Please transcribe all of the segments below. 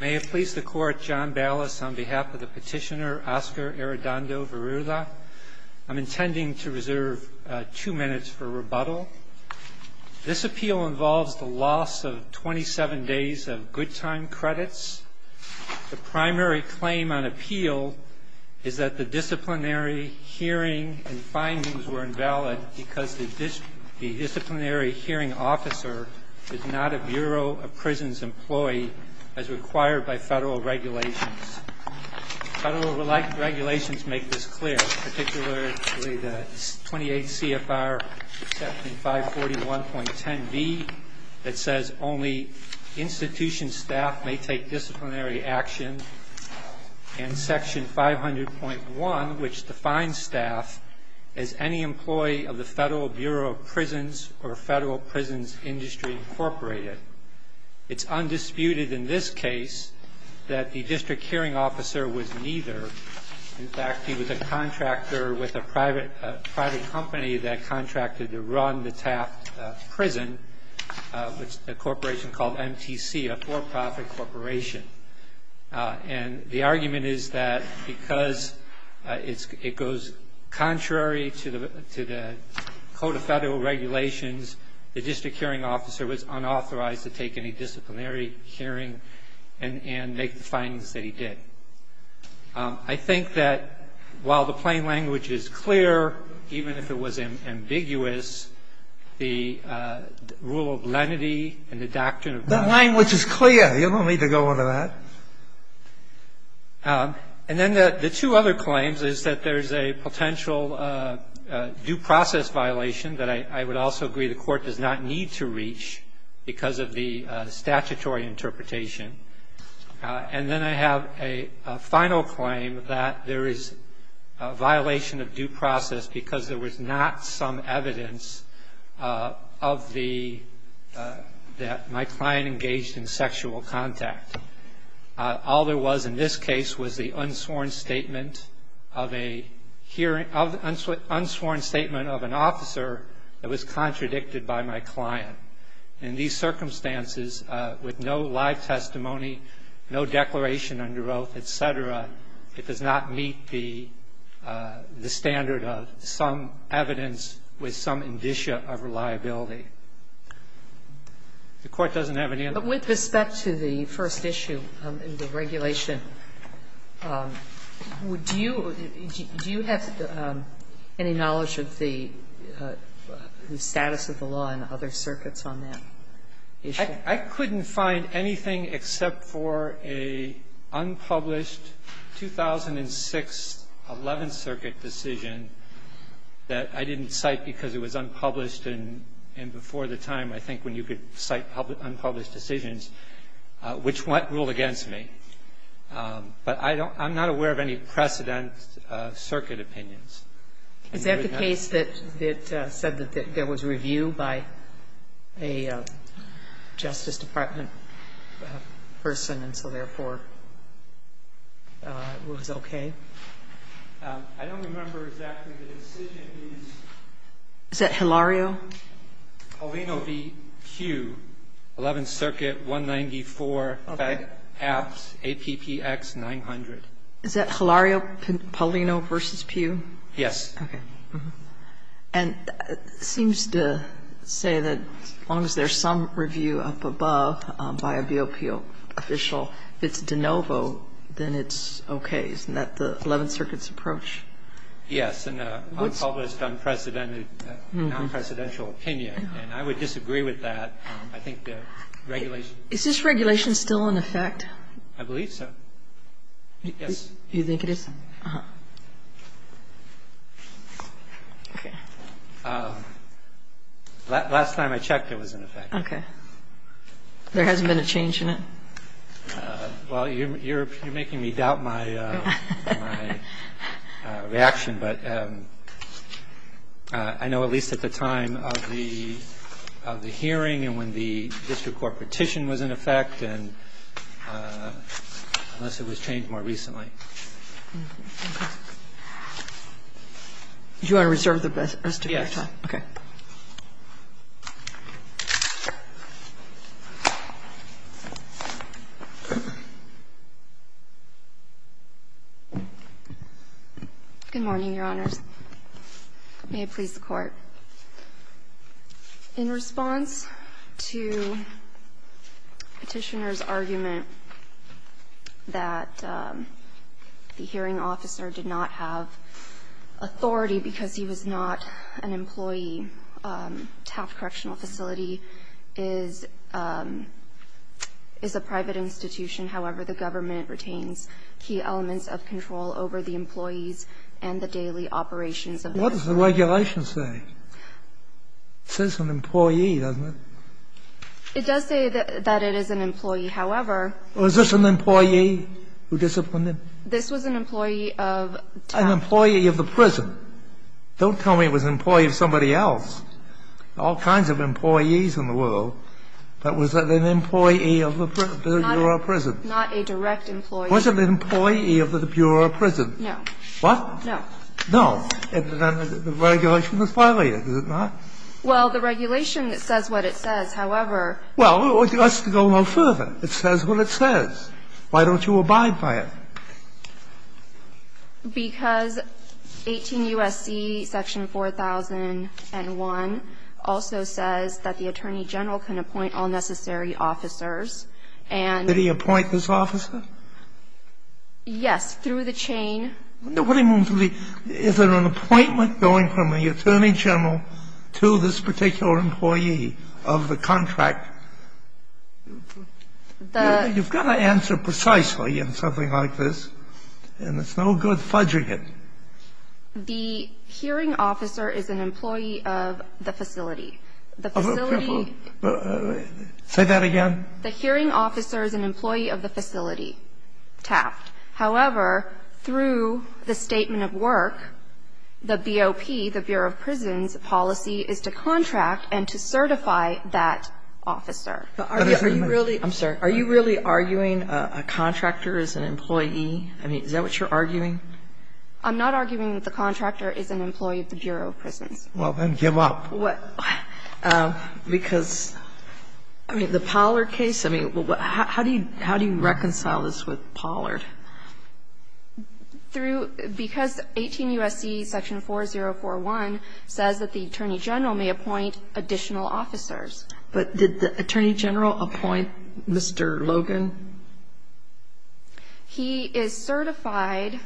May it please the court, John Ballas on behalf of the petitioner Oscar Arredondo-Virula. I'm intending to reserve two minutes for rebuttal. This appeal involves the loss of 27 days of good time credits. The primary claim on appeal is that the disciplinary hearing and findings were invalid because the disciplinary hearing officer is not a Bureau of Prisons employee as required by federal regulations. Federal regulations make this clear, particularly the 28 CFR section 541.10b that says only institution staff may take disciplinary action and section 500.1 which defines staff as any employee of the Federal Bureau of Prisons or Federal Prisons Industry Incorporated. It's undisputed in this case that the district hearing officer was neither. In fact, he was a contractor with a private company that contracted to run the Taft Prison, a corporation called MTC, a for-profit corporation. And the argument is that because it goes contrary to the Code of Federal Regulations, the district hearing officer was unauthorized to take any disciplinary hearing and make the findings that he did. I think that while the plain language is clear, even if it was ambiguous, there is the rule of lenity and the doctrine of law. The language is clear. You don't need to go into that. And then the two other claims is that there is a potential due process violation that I would also agree the Court does not need to reach because of the statutory interpretation. And then I have a final claim that there is a violation of due process because there was not some evidence of the, that my client engaged in sexual contact. All there was in this case was the unsworn statement of a hearing, unsworn statement of an officer that was contradicted by my client. In these circumstances, with no live testimony, no declaration under oath, et cetera, it does not meet the standard of some evidence with some indicia of reliability. The Court doesn't have an answer. Sotomayor With respect to the first issue in the regulation, do you have any knowledge of the status of the law in other circuits on that issue? I couldn't find anything except for a unpublished 2006 Eleventh Circuit decision that I didn't cite because it was unpublished, and before the time, I think, when you could cite unpublished decisions, which went rule against me. But I don't – I'm not aware of any precedent circuit opinions. Is that the case that said that there was review by a Justice Department person and so, therefore, it was okay? I don't remember exactly the decision. Is that Hilario? Paulino v. Pugh, Eleventh Circuit 194, Fed Apps, APPX 900. Is that Hilario Paulino v. Pugh? Yes. Okay. And it seems to say that as long as there's some review up above by a BOPO official, if it's de novo, then it's okay. Isn't that the Eleventh Circuit's approach? Yes. And unpublished, unprecedented, non-presidential opinion. And I would disagree with that. I think the regulation – Is this regulation still in effect? I believe so. Yes. You think it is? No. Okay. Last time I checked, it was in effect. Okay. There hasn't been a change in it? Well, you're making me doubt my reaction. But I know at least at the time of the hearing and when the district court petition was in effect, and unless it was changed more recently. Okay. Do you want to reserve the rest of your time? Yes. Okay. Good morning, Your Honors. May it please the Court. In response to Petitioner's argument that the hearing officer did not have authority because he was not an employee, Taft Correctional Facility is a private institution. However, the government retains key elements of control over the employees of Taft Correctional Facility. I'm not sure what the regulations say. It says an employee, doesn't it? It does say that it is an employee. However, Was this an employee who disciplined him? This was an employee of Taft. An employee of the prison. Don't tell me it was an employee of somebody else. There are all kinds of employees in the world. But was it an employee of the bureau of prison? Not a direct employee. Was it an employee of the bureau of prison? No. What? No. No. The regulation was violated, was it not? Well, the regulation says what it says. However, Well, it has to go no further. It says what it says. Why don't you abide by it? Because 18 U.S.C. section 4001 also says that the attorney general can appoint all necessary officers and Did he appoint this officer? Yes, through the chain. Is there an appointment going from the attorney general to this particular employee of the contract? You've got to answer precisely in something like this, and it's no good fudging it. The hearing officer is an employee of the facility. The facility Say that again. The hearing officer is an employee of the facility, Taft. However, through the statement of work, the BOP, the Bureau of Prisons, policy is to contract and to certify that officer. Are you really I'm sorry. Are you really arguing a contractor is an employee? I mean, is that what you're arguing? I'm not arguing that the contractor is an employee of the Bureau of Prisons. Well, then give up. Because, I mean, the Pollard case, I mean, how do you reconcile this with Pollard? Because 18 U.S.C. section 4041 says that the attorney general may appoint additional officers. But did the attorney general appoint Mr. Logan? He is certified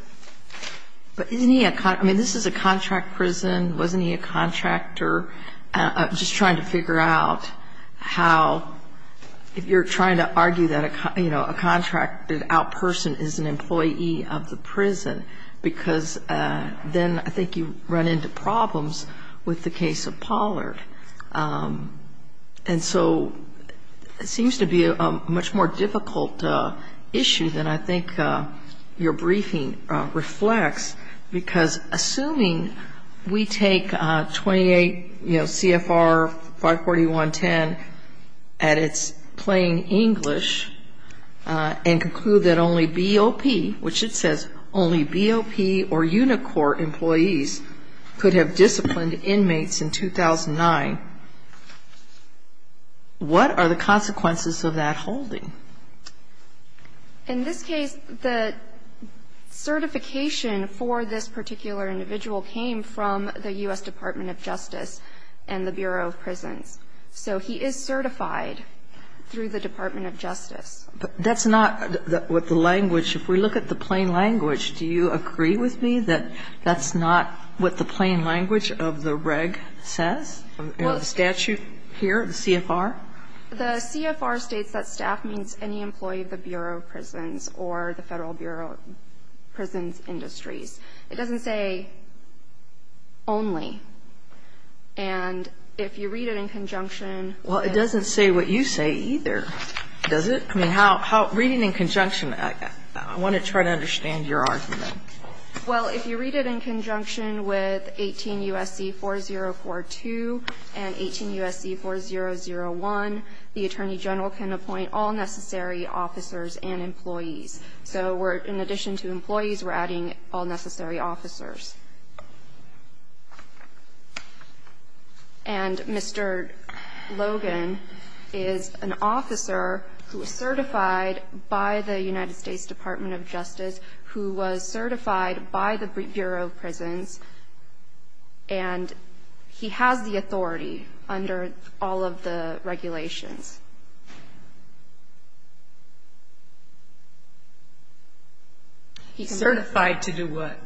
But isn't he a I mean, this is a contract prison. Wasn't he a contractor? I'm just trying to figure out how, if you're trying to argue that a contracted out person is an employee of the prison, because then I think you run into problems with the case of Pollard. And so it seems to be a much more difficult issue than I think your briefing reflects, because assuming we take 28, you know, CFR 54110 at its plain English and conclude that only BOP, which it says only BOP or Unicorp employees, could have disciplined inmates in 2009, what are the consequences of that holding? In this case, the certification for this particular individual came from the U.S. Department of Justice and the Bureau of Prisons. So he is certified through the Department of Justice. But that's not what the language, if we look at the plain language, do you agree with me that that's not what the plain language of the reg says? The statute here, the CFR? The CFR states that staff means any employee of the Bureau of Prisons or the Federal Bureau of Prisons Industries. It doesn't say only. And if you read it in conjunction Well, it doesn't say what you say either, does it? I mean, how, reading in conjunction, I want to try to understand your argument. Well, if you read it in conjunction with 18 U.S.C. 4042 and 18 U.S.C. 4001, the Attorney General can appoint all necessary officers and employees. So we're, in addition to employees, we're adding all necessary officers. And Mr. Logan is an officer who is certified by the United States Department of Justice, who was certified by the Bureau of Prisons, and he has the authority under all of the regulations. He's certified to do what?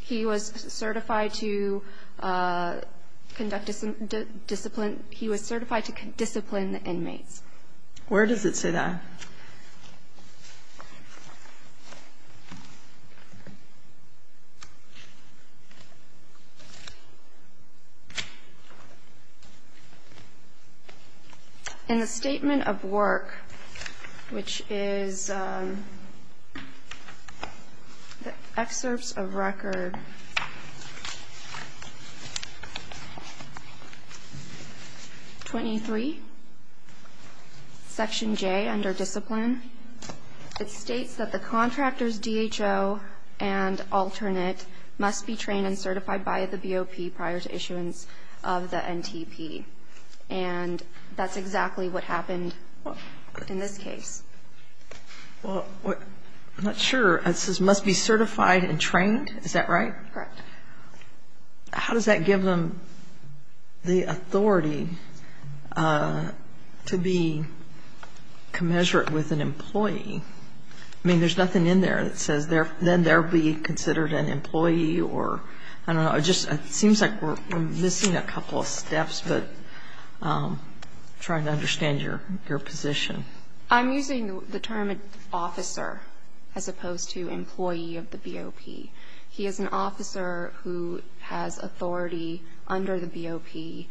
He was certified to conduct discipline. He was certified to discipline inmates. Where does it say that? In the Statement of Work, which is the Excerpts of Record 23, Section J, under Section 23, it states that the contractors, DHO and alternate, must be trained and certified by the BOP prior to issuance of the NTP. And that's exactly what happened in this case. I'm not sure. It says must be certified and trained. Is that right? Correct. How does that give them the authority to be commensurate with an employee? I mean, there's nothing in there that says then they'll be considered an employee or, I don't know. It just seems like we're missing a couple of steps, but I'm trying to understand your position. I'm using the term officer as opposed to employee of the BOP. He is an officer who has authority under the BOP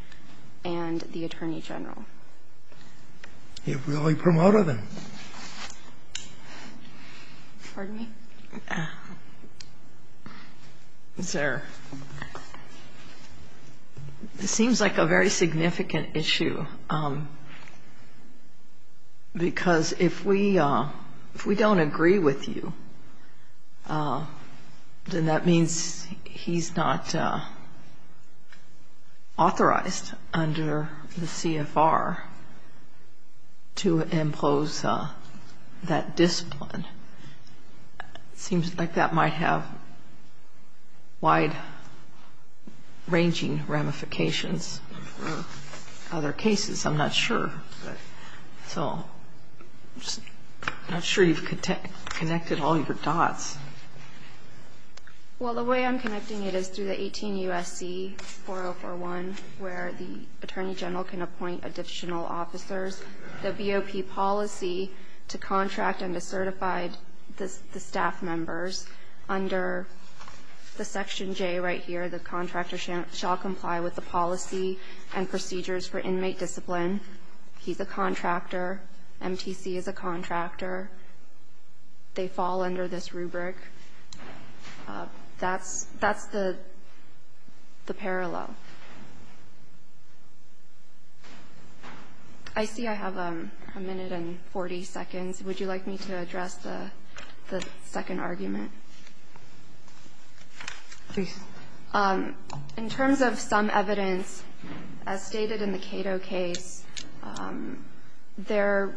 and the Attorney General. You've really promoted him. Pardon me? It seems like a very significant issue, because if we don't agree with you, then that means he's not authorized under the CFR to impose that discipline. It seems like that might have wide-ranging ramifications for other cases. I'm not sure. So I'm just not sure you've connected all your dots. Well, the way I'm connecting it is through the 18 U.S.C. 4041, where the Attorney General can appoint additional officers. There's the BOP policy to contract and to certify the staff members. Under the Section J right here, the contractor shall comply with the policy and procedures for inmate discipline. He's a contractor. MTC is a contractor. They fall under this rubric. That's the parallel. I see I have a minute and 40 seconds. Would you like me to address the second argument? Please. In terms of some evidence, as stated in the Cato case, there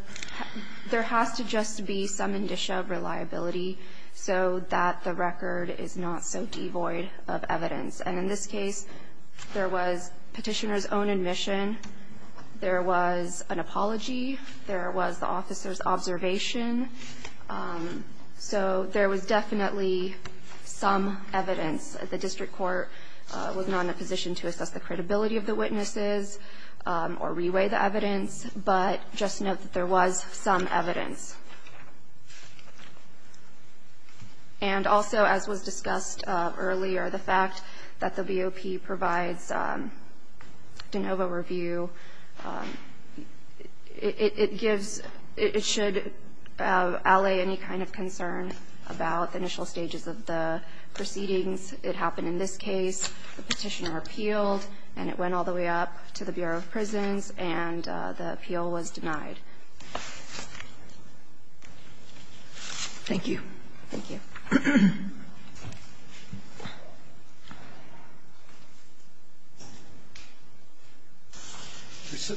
has to just be some indicia of reliability so that the record is not so devoid of evidence. And in this case, there was petitioner's own admission. There was an apology. There was the officer's observation. So there was definitely some evidence. The district court was not in a position to assess the credibility of the witnesses or reweigh the evidence. But just note that there was some evidence. And also, as was discussed earlier, the fact that the BOP provides de novo review, it should allay any kind of concern about initial stages of the proceedings. It happened in this case. The petitioner appealed, and it went all the way up to the Bureau of Prisons, and the appeal was denied. Thank you. Thank you.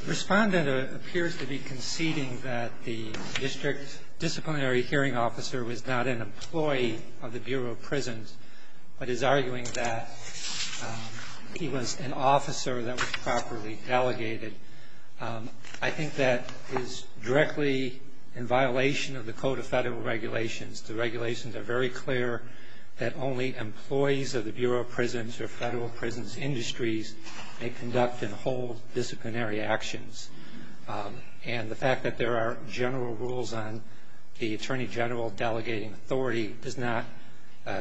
Respondent appears to be conceding that the district disciplinary hearing officer was not an employee of the Bureau of Prisons, but is arguing that he was an officer that was properly delegated. I think that is directly in violation of the Code of Federal Regulations. The regulations are very clear that only employees of the Bureau of Prisons or federal prisons industries may conduct and hold disciplinary actions. And the fact that there are general rules on the attorney general delegating authority does not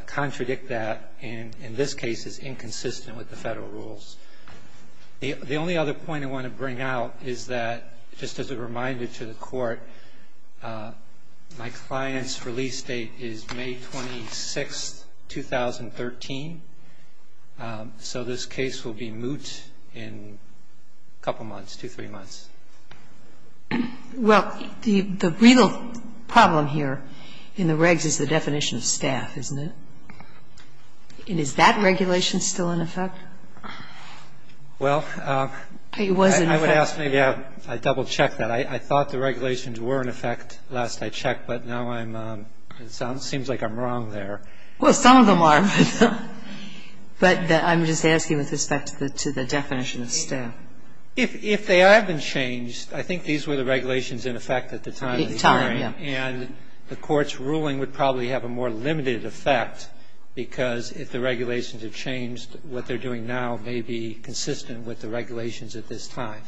contradict that, and in this case is inconsistent with the federal rules. The only other point I want to bring out is that, just as a reminder to the Court, my client's release date is May 26, 2013. So this case will be moot in a couple months, two, three months. Well, the real problem here in the regs is the definition of staff, isn't it? And is that regulation still in effect? Well, I would ask maybe I double-check that. I thought the regulations were in effect last I checked, but now I'm, it seems like I'm wrong there. Well, some of them are. But I'm just asking with respect to the definition of staff. If they have been changed, I think these were the regulations in effect at the time of the hearing. And the Court's ruling would probably have a more limited effect, because if the regulations are changed, what they're doing now may be consistent with the regulations at this time.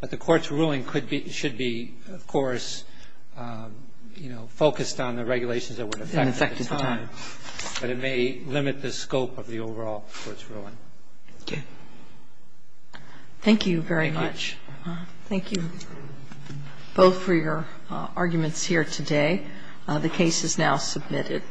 But the Court's ruling could be, should be, of course, you know, focused on the regulations that were in effect at the time. But it may limit the scope of the overall Court's ruling. Thank you. Thank you very much. Thank you both for your arguments here today. The case is now submitted.